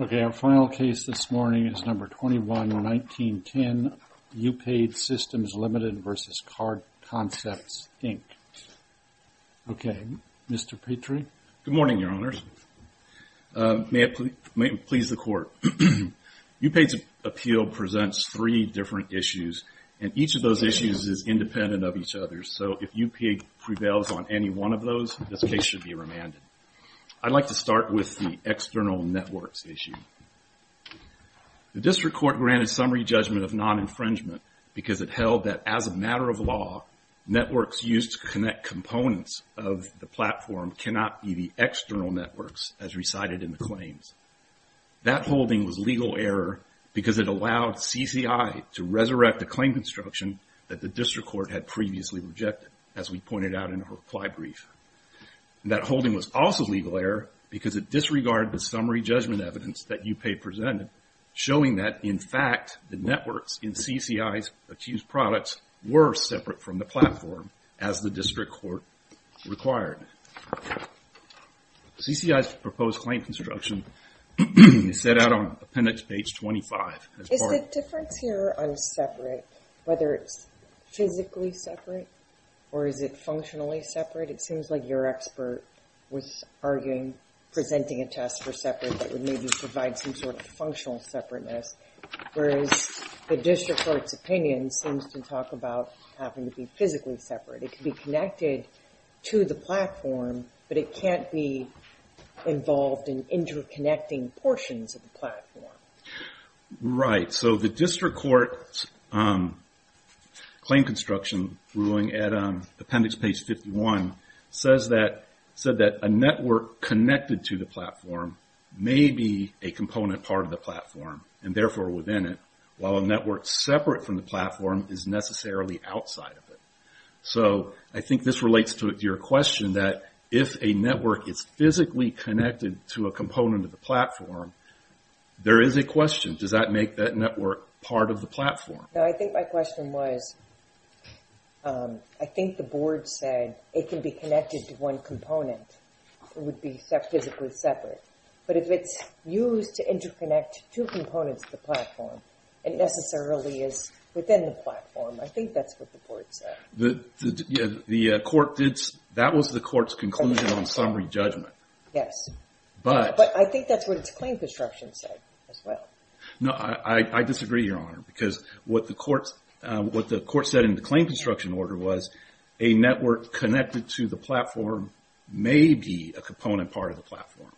Okay, our final case this morning is No. 21-1910, Upaid Systems, Ltd. v. Card Concepts, Inc. Okay, Mr. Petrie? Good morning, Your Honors. May it please the Court. Upaid's appeal presents three different issues, and each of those issues is independent of each other, so if Upaid prevails on any one of those, this case should be remanded. I'd like to start with the external networks issue. The District Court granted summary judgment of non-infringement because it held that as a matter of law, networks used to connect components of the platform cannot be the external networks as recited in the claims. That holding was legal error because it allowed CCI to resurrect the claim construction that the District Court had previously rejected, as we pointed out in our reply brief. That holding was also legal error because it disregarded the summary judgment evidence that Upaid presented, showing that, in fact, the networks in CCI's accused products were separate from the platform, as the District Court required. CCI's proposed claim construction is set out on Appendix Page 25. Is the difference here on separate, whether it's physically separate or is it functionally separate? It seems like your expert was arguing presenting a test for separate that would maybe provide some sort of functional separateness, whereas the District Court's opinion seems to talk about having to be physically separate. It could be connected to the platform, but it can't be involved in interconnecting portions of the platform. The District Court's claim construction ruling at Appendix Page 51 said that a network connected to the platform may be a component part of the platform, and therefore within it, while a network separate from the platform is necessarily outside of it. I think this relates to your question that if a network is physically connected to a component of the platform, there is a question, does that make that network part of the platform? I think my question was, I think the Board said it can be connected to one component. It would be physically separate. But if it's used to interconnect two components of the platform, it necessarily is within the platform. I think that's what the Board said. That was the Court's conclusion on summary judgment. Yes. But I think that's what its claim construction said as well. No, I disagree, Your Honor, because what the Court said in the claim construction order was a network connected to the platform may be a component part of the platform.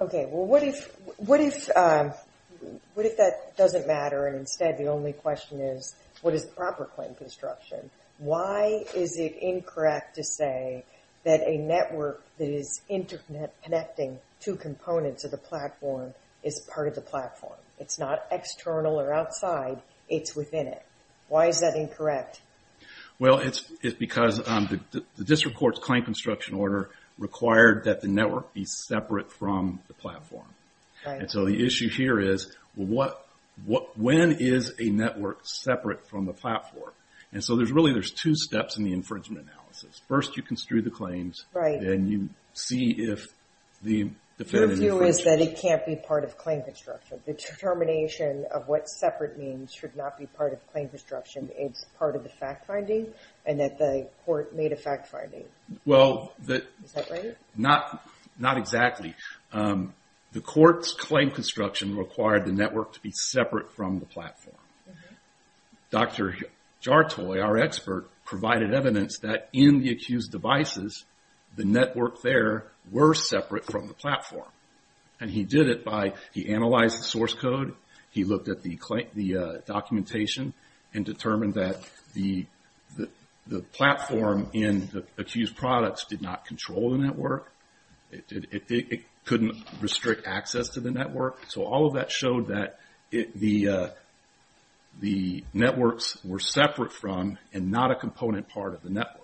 Okay, well, what if that doesn't matter, and instead the only question is what is the proper claim construction? Why is it incorrect to say that a network that is interconnecting two components of the platform is part of the platform? It's not external or outside. It's within it. Why is that incorrect? Well, it's because the district court's claim construction order required that the network be separate from the platform. And so the issue here is when is a network separate from the platform? And so really there's two steps in the infringement analysis. First, you construe the claims. Right. Then you see if the defendant infringes. Your view is that it can't be part of claim construction. The determination of what separate means should not be part of claim construction. It's part of the fact-finding and that the Court made a fact-finding. Well, not exactly. The Court's claim construction required the network to be separate from the platform. Dr. Jartoy, our expert, provided evidence that in the accused devices the network there were separate from the platform. And he did it by he analyzed the source code. He looked at the documentation and determined that the platform in the accused products did not control the network. It couldn't restrict access to the network. So all of that showed that the networks were separate from and not a component part of the network.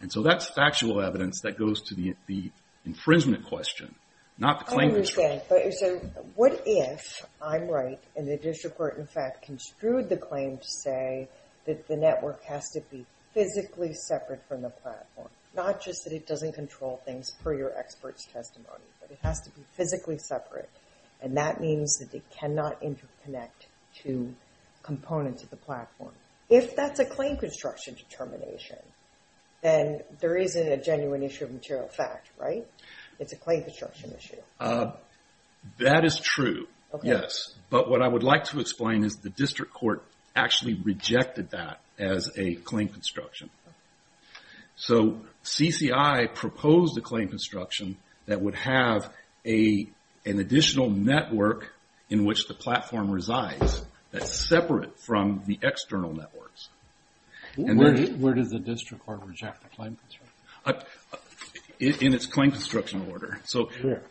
And so that's factual evidence that goes to the infringement question, not the claim construction. I understand, but what if I'm right and the district court, in fact, construed the claim to say that the network has to be physically separate from the platform? Not just that it doesn't control things per your expert's testimony, but it has to be physically separate. And that means that it cannot interconnect to components of the platform. If that's a claim construction determination, then there isn't a genuine issue of material fact, right? It's a claim construction issue. That is true, yes. But what I would like to explain is the district court actually rejected that as a claim construction. So CCI proposed a claim construction that would have an additional network in which the platform resides that's separate from the external networks. Where does the district court reject the claim construction? In its claim construction order. Where?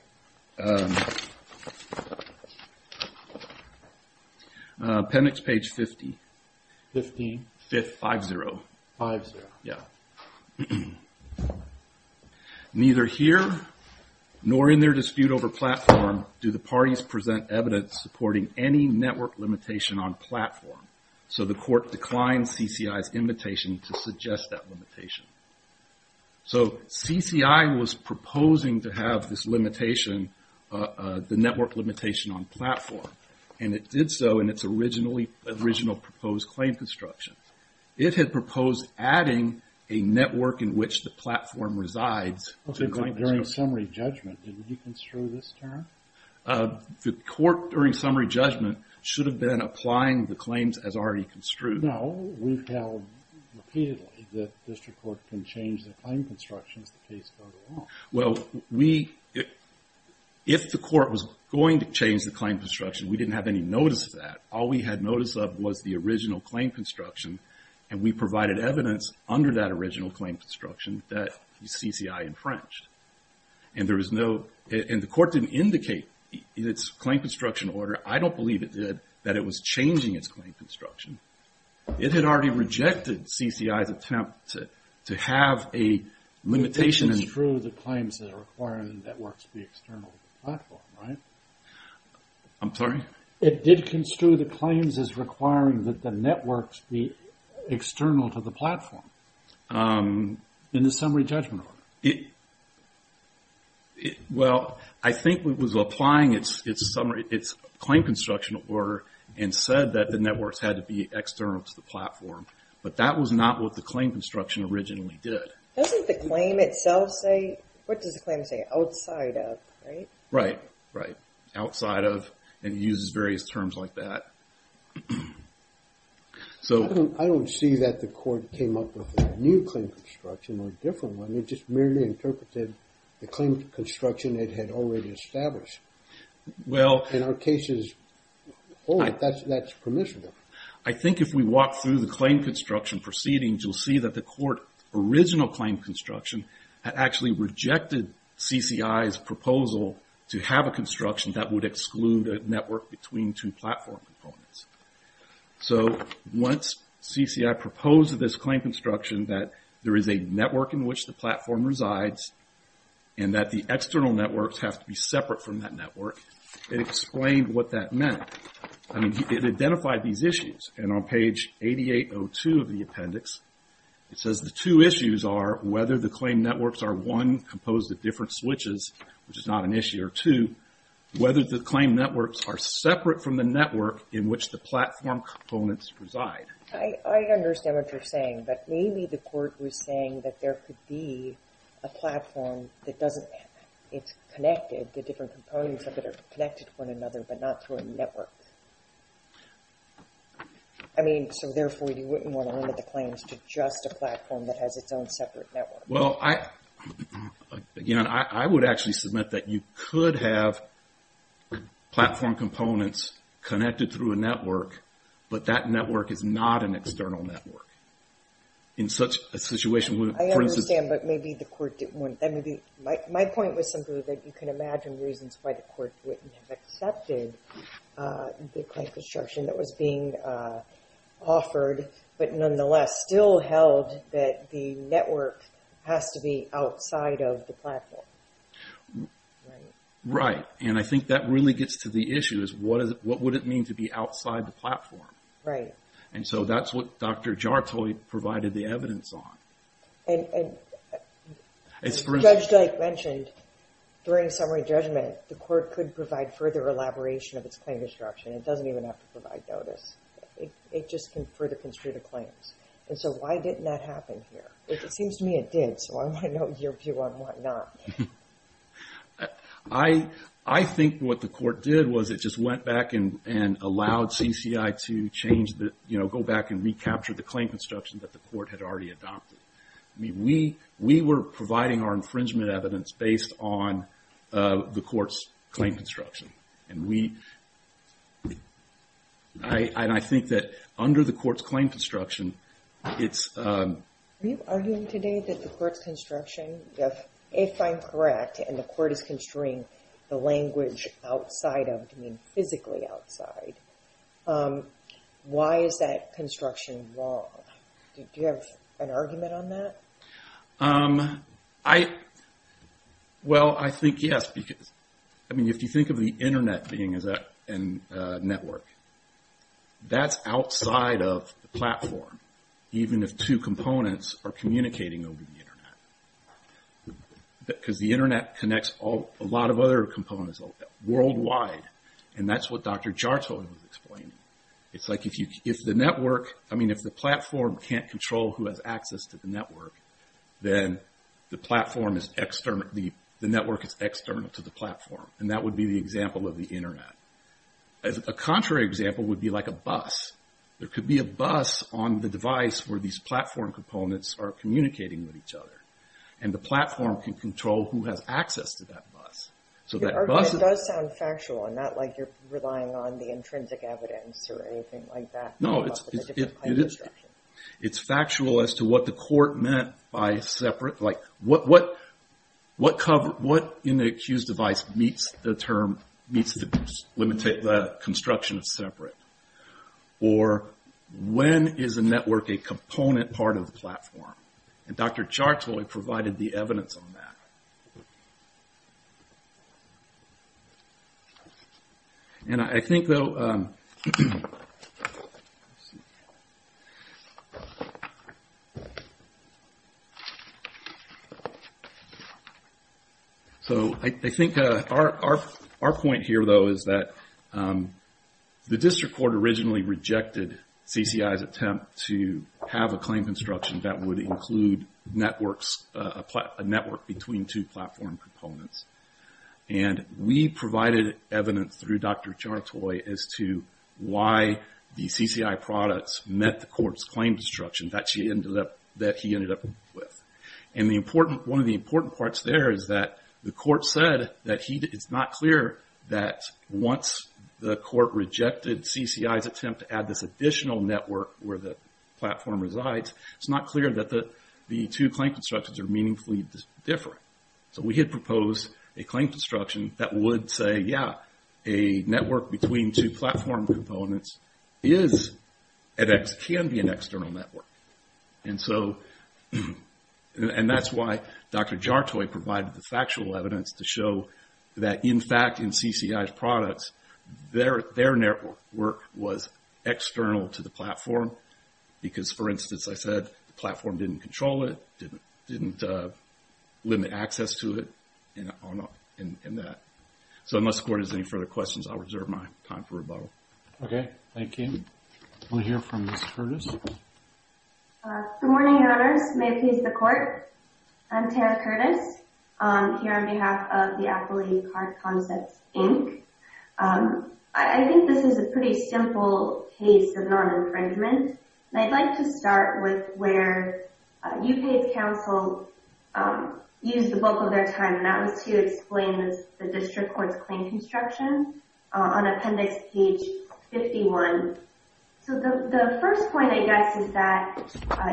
Appendix page 50. 15? Fifth, 5-0. 5-0. Yeah. Neither here nor in their dispute over platform do the parties present evidence supporting any network limitation on platform. So the court declined CCI's invitation to suggest that limitation. So CCI was proposing to have this limitation, the network limitation on platform. And it did so in its original proposed claim construction. It had proposed adding a network in which the platform resides. Okay, but during summary judgment, didn't you construe this term? The court, during summary judgment, should have been applying the claims as already construed. No, we've held repeatedly that district court can change the claim construction as the case goes along. Well, if the court was going to change the claim construction, we didn't have any notice of that. All we had notice of was the original claim construction, and we provided evidence under that original claim construction that CCI infringed. And there was no, and the court didn't indicate in its claim construction order, I don't believe it did, that it was changing its claim construction. It had already rejected CCI's attempt to have a limitation. It didn't construe the claims that require the network to be external to the platform, right? I'm sorry? It did construe the claims as requiring that the networks be external to the platform in the summary judgment order. Well, I think it was applying its claim construction order and said that the networks had to be external to the platform, but that was not what the claim construction originally did. Doesn't the claim itself say, what does the claim say, outside of, right? Right, right, outside of, and it uses various terms like that. I don't see that the court came up with a new claim construction or a different one. It just merely interpreted the claim construction it had already established. In our cases, that's permissible. I think if we walk through the claim construction proceedings, you'll see that the court original claim construction had actually rejected CCI's proposal to have a construction that would exclude a network between two platform components. So once CCI proposed this claim construction that there is a network in which the platform resides and that the external networks have to be separate from that network, it explained what that meant. It identified these issues, and on page 8802 of the appendix, it says the two issues are whether the claim networks are, one, composed of different switches, which is not an issue, or two, whether the claim networks are separate from the network in which the platform components reside. I understand what you're saying, but maybe the court was saying that there could be a platform that doesn't, it's connected, the different components of it are connected to one another but not through a network. I mean, so therefore you wouldn't want to limit the claims to just a platform that has its own separate network. Well, again, I would actually submit that you could have platform components connected through a network, but that network is not an external network. In such a situation, for instance... I understand, but maybe the court didn't want, my point was simply that you can imagine reasons why the court wouldn't have accepted the claim construction that was being offered, but nonetheless still held that the network has to be outside of the platform. Right, and I think that really gets to the issue, is what would it mean to be outside the platform? Right. And so that's what Dr. Jartoit provided the evidence on. And Judge Dyke mentioned, during summary judgment, the court could provide further elaboration of its claim construction. It doesn't even have to provide notice. It just can further construe the claims. And so why didn't that happen here? It seems to me it did, so I want to know your view on why not. I think what the court did was it just went back and allowed CCI to change, to go back and recapture the claim construction that the court had already adopted. I mean, we were providing our infringement evidence based on the court's claim construction. And I think that under the court's claim construction, it's... Are you arguing today that the court's construction, if I'm correct and the court is construing the language outside of, to mean physically outside, why is that construction wrong? Do you have an argument on that? Well, I think yes, because... I mean, if you think of the internet being a network, that's outside of the platform, even if two components are communicating over the internet. Because the internet connects a lot of other components worldwide, and that's what Dr. Jarto was explaining. It's like if the network... I mean, if the platform can't control who has access to the network, then the network is external to the platform, and that would be the example of the internet. A contrary example would be like a bus. There could be a bus on the device where these platform components are communicating with each other, and the platform can control who has access to that bus. Your argument does sound factual, not like you're relying on the intrinsic evidence or anything like that. No, it's factual as to what the court meant by separate... Like, what in the accused device meets the term... meets the construction of separate? Or when is a network a component part of the platform? And Dr. Jarto provided the evidence on that. And I think, though... The district court originally rejected CCI's attempt to have a claim construction that would include a network between two platform components. And we provided evidence through Dr. Jarto as to why the CCI products met the court's claim construction that he ended up with. And one of the important parts there is that the court said that it's not clear that once the court rejected CCI's attempt to add this additional network where the platform resides, it's not clear that the two claim constructions are meaningfully different. So we had proposed a claim construction that would say, yeah, a network between two platform components can be an external network. And so... And that's why Dr. Jarto provided the factual evidence to show that, in fact, in CCI's products, their network was external to the platform. Because, for instance, I said the platform didn't control it, didn't limit access to it, and that. So unless the court has any further questions, I'll reserve my time for rebuttal. Okay, thank you. We'll hear from Ms. Curtis. Good morning, Your Honors. May it please the Court. I'm Tara Curtis, here on behalf of the Affiliate Card Concepts, Inc. I think this is a pretty simple case of non-infringement. And I'd like to start with where UPA's counsel used the bulk of their time, and that was to explain the district court's claim construction on Appendix Page 51. So the first point, I guess, is that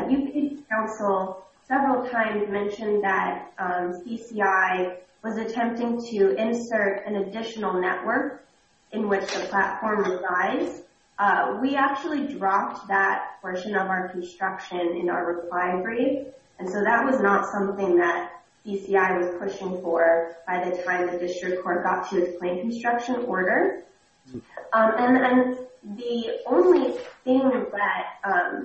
UPA's counsel several times mentioned that CCI was attempting to insert an additional network in which the platform resides. We actually dropped that portion of our construction in our reply brief, and so that was not something that CCI was pushing for by the time the district court got to its claim construction order. And the only thing that...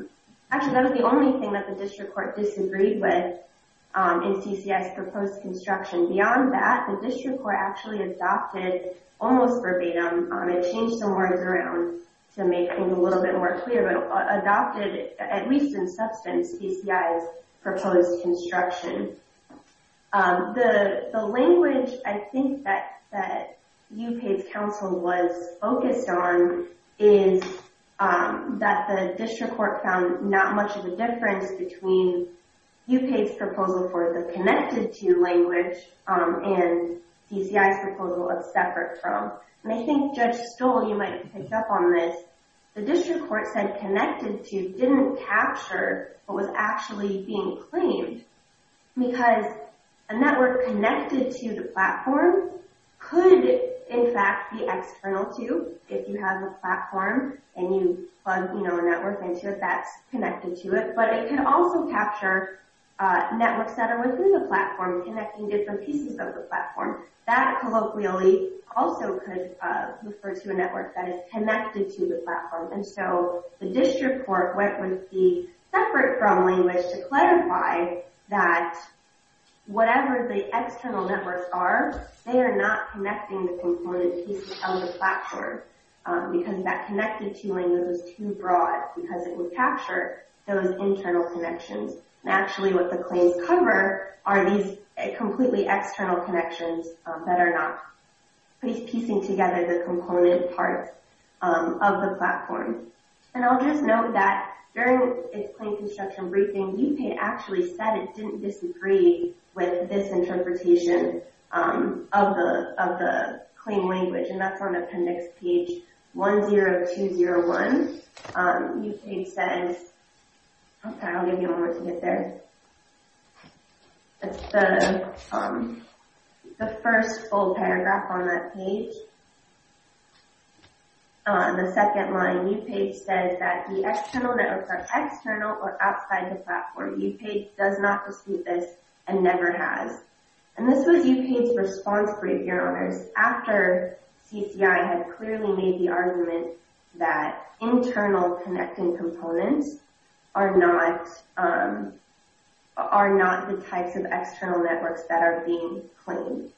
Actually, that was the only thing that the district court disagreed with in CCI's proposed construction. Beyond that, the district court actually adopted, almost verbatim, I'm going to change some words around to make things a little bit more clear, but adopted, at least in substance, CCI's proposed construction. The language, I think, that UPA's counsel was focused on is that the district court found not much of a difference between UPA's proposal for the connected-to language and CCI's proposal of separate from. And I think Judge Stoll, you might pick up on this, the district court said connected-to didn't capture what was actually being claimed because a network connected to the platform could, in fact, be external to, if you have a platform and you plug a network into it that's connected to it, but it could also capture networks that are within the platform connecting different pieces of the platform. That, colloquially, also could refer to a network that is connected to the platform. And so the district court went with the separate from language to clarify that whatever the external networks are, they are not connecting the component pieces of the platform because that connected-to language was too broad because it would capture those internal connections. And actually, what the claims cover are these completely external connections that are not piecing together the component parts of the platform. And I'll just note that during its claim construction briefing, UK actually said it didn't disagree with this interpretation of the claim language, and that's on appendix page 10201. UK says, okay, I'll give you one more to get there. It's the first full paragraph on that page. On the second line, UK says that the external networks are external or outside the platform. UK does not dispute this and never has. And this was UK's response brief, Your Honors, after CCI had clearly made the argument that internal connecting components are not the types of external networks that are being claimed.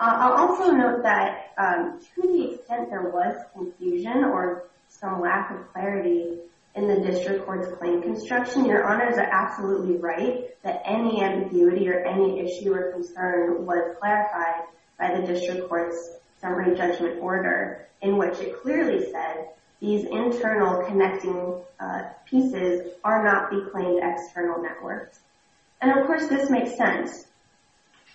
I'll also note that to the extent there was confusion or some lack of clarity in the district court's claim construction, Your Honors are absolutely right that any ambiguity or any issue or concern was clarified by the district court's summary judgment order in which it clearly said these internal connecting pieces are not the claimed external networks. And, of course, this makes sense.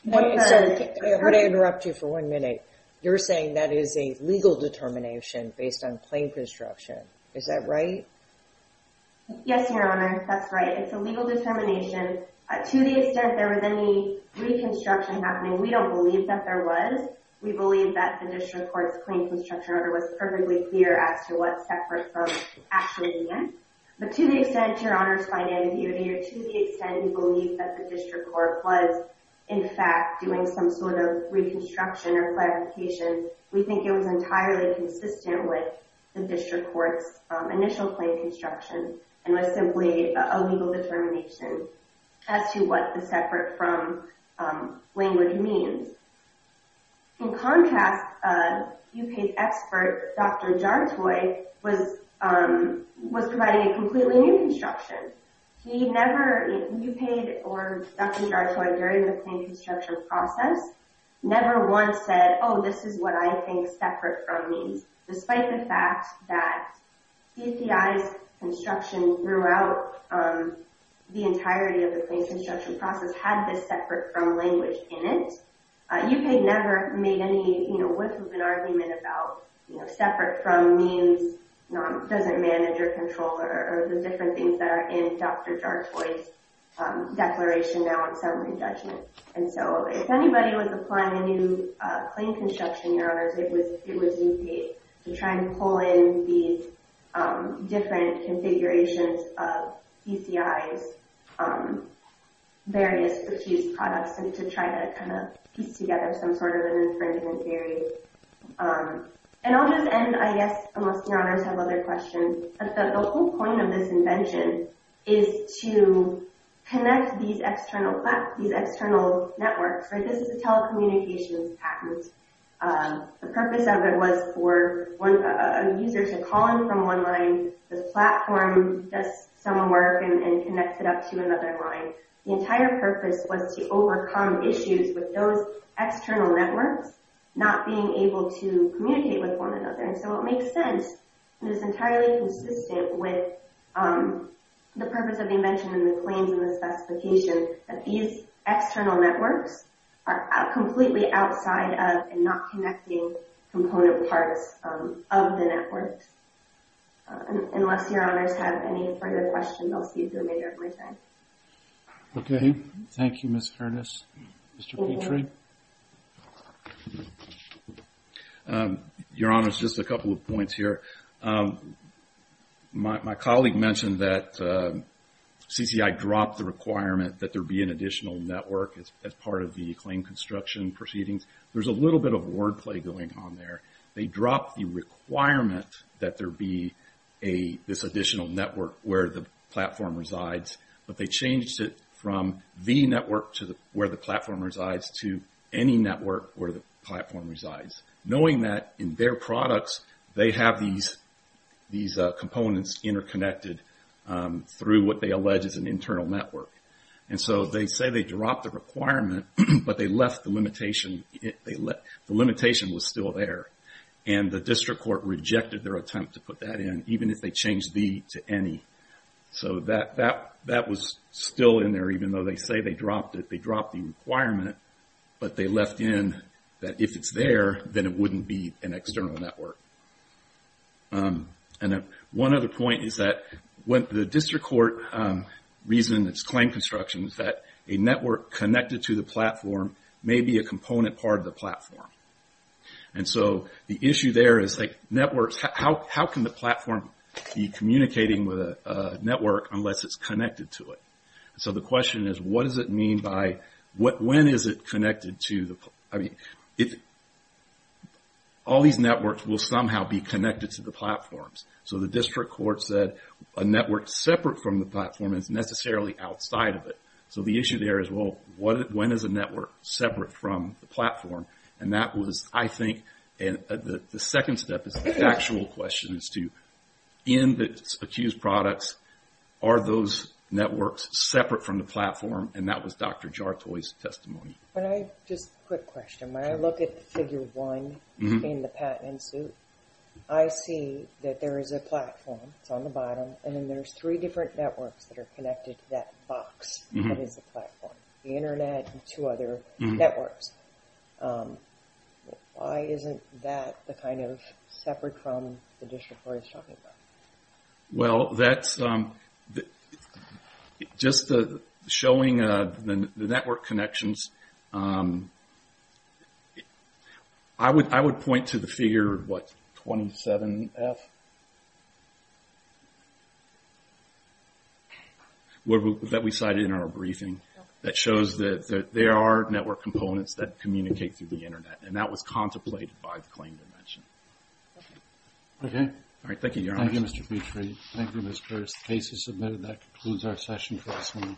Sorry, I'm going to interrupt you for one minute. You're saying that is a legal determination based on claim construction. Is that right? Yes, Your Honor, that's right. It's a legal determination. To the extent there was any reconstruction happening, we don't believe that there was. We believe that the district court's claim construction order was perfectly clear as to what separate firm actually is. But to the extent, Your Honors, by ambiguity or to the extent you believe that the district court was, in fact, doing some sort of reconstruction or clarification, we think it was entirely consistent with the district court's initial claim construction and was simply a legal determination as to what the separate firm language means. In contrast, UPA's expert, Dr. Jantoi, was providing a completely new construction. He never, UPA or Dr. Jantoi, during the claim construction process, never once said, oh, this is what I think separate firm means, despite the fact that DFI's construction throughout the entirety of the claim construction process had this separate firm language in it. UPA never made any, you know, separate firm means, doesn't manage or control or the different things that are in Dr. Jantoi's declaration now in summary judgment. And so if anybody was applying a new claim construction, Your Honors, it was UPA to try and pull in these different configurations of PCI's various accused products and to try to kind of piece together some sort of an infringement theory. And I'll just end, I guess, unless Your Honors have other questions, but the whole point of this invention is to connect these external networks, right? This is a telecommunications patent. The purpose of it was for a user to call in from online, this platform, does some work and connects it up to another line. The entire purpose was to overcome issues with those external networks, not being able to communicate with one another. And so it makes sense, and it's entirely consistent with the purpose of the invention and the claims and the specification that these external networks are completely outside of and not connecting component parts of the networks. Unless Your Honors have any further questions, I'll see you through, Major. Okay. Thank you, Ms. Harness. Mr. Petry? Your Honors, just a couple of points here. My colleague mentioned that CCI dropped the requirement that there be an additional network as part of the claim construction proceedings. There's a little bit of wordplay going on there. They dropped the requirement that there be this additional network where the platform resides but they changed it from the network where the platform resides to any network where the platform resides, knowing that in their products, they have these components interconnected through what they allege is an internal network. And so they say they dropped the requirement, but the limitation was still there. And the district court rejected their attempt to put that in, even if they changed the to any. So that was still in there, even though they say they dropped it. They dropped the requirement, but they left in that if it's there, then it wouldn't be an external network. And one other point is that the district court reason it's claim construction is that a network connected to the platform may be a component part of the platform. And so the issue there is networks, how can the platform be communicating with a network unless it's connected to it? So the question is, what does it mean by, when is it connected to the, if all these networks will somehow be connected to the platforms? So the district court said a network separate from the platform is necessarily outside of it. So the issue there is, well, when is a network separate from the platform? And that was, I think, the second step is the actual question is to in the accused products, are those networks separate from the platform? And that was Dr. Jartoy's testimony. When I just quick question, when I look at figure one in the patent suit, I see that there is a platform, it's on the bottom. And then there's three different networks that are connected to that box. That is a platform, the internet and two other networks. Why isn't that the kind of separate from the district court is talking about? Well, that's, just showing the network connections, I would point to the figure, what, 27F? That we cited in our briefing. That shows that there are network components that communicate through the internet. And that was contemplated by the claim dimension. Okay. All right, thank you, Your Honor. Thank you, Mr. Petrie. Thank you, Mr. Curtis. The case is submitted. That concludes our session for this morning.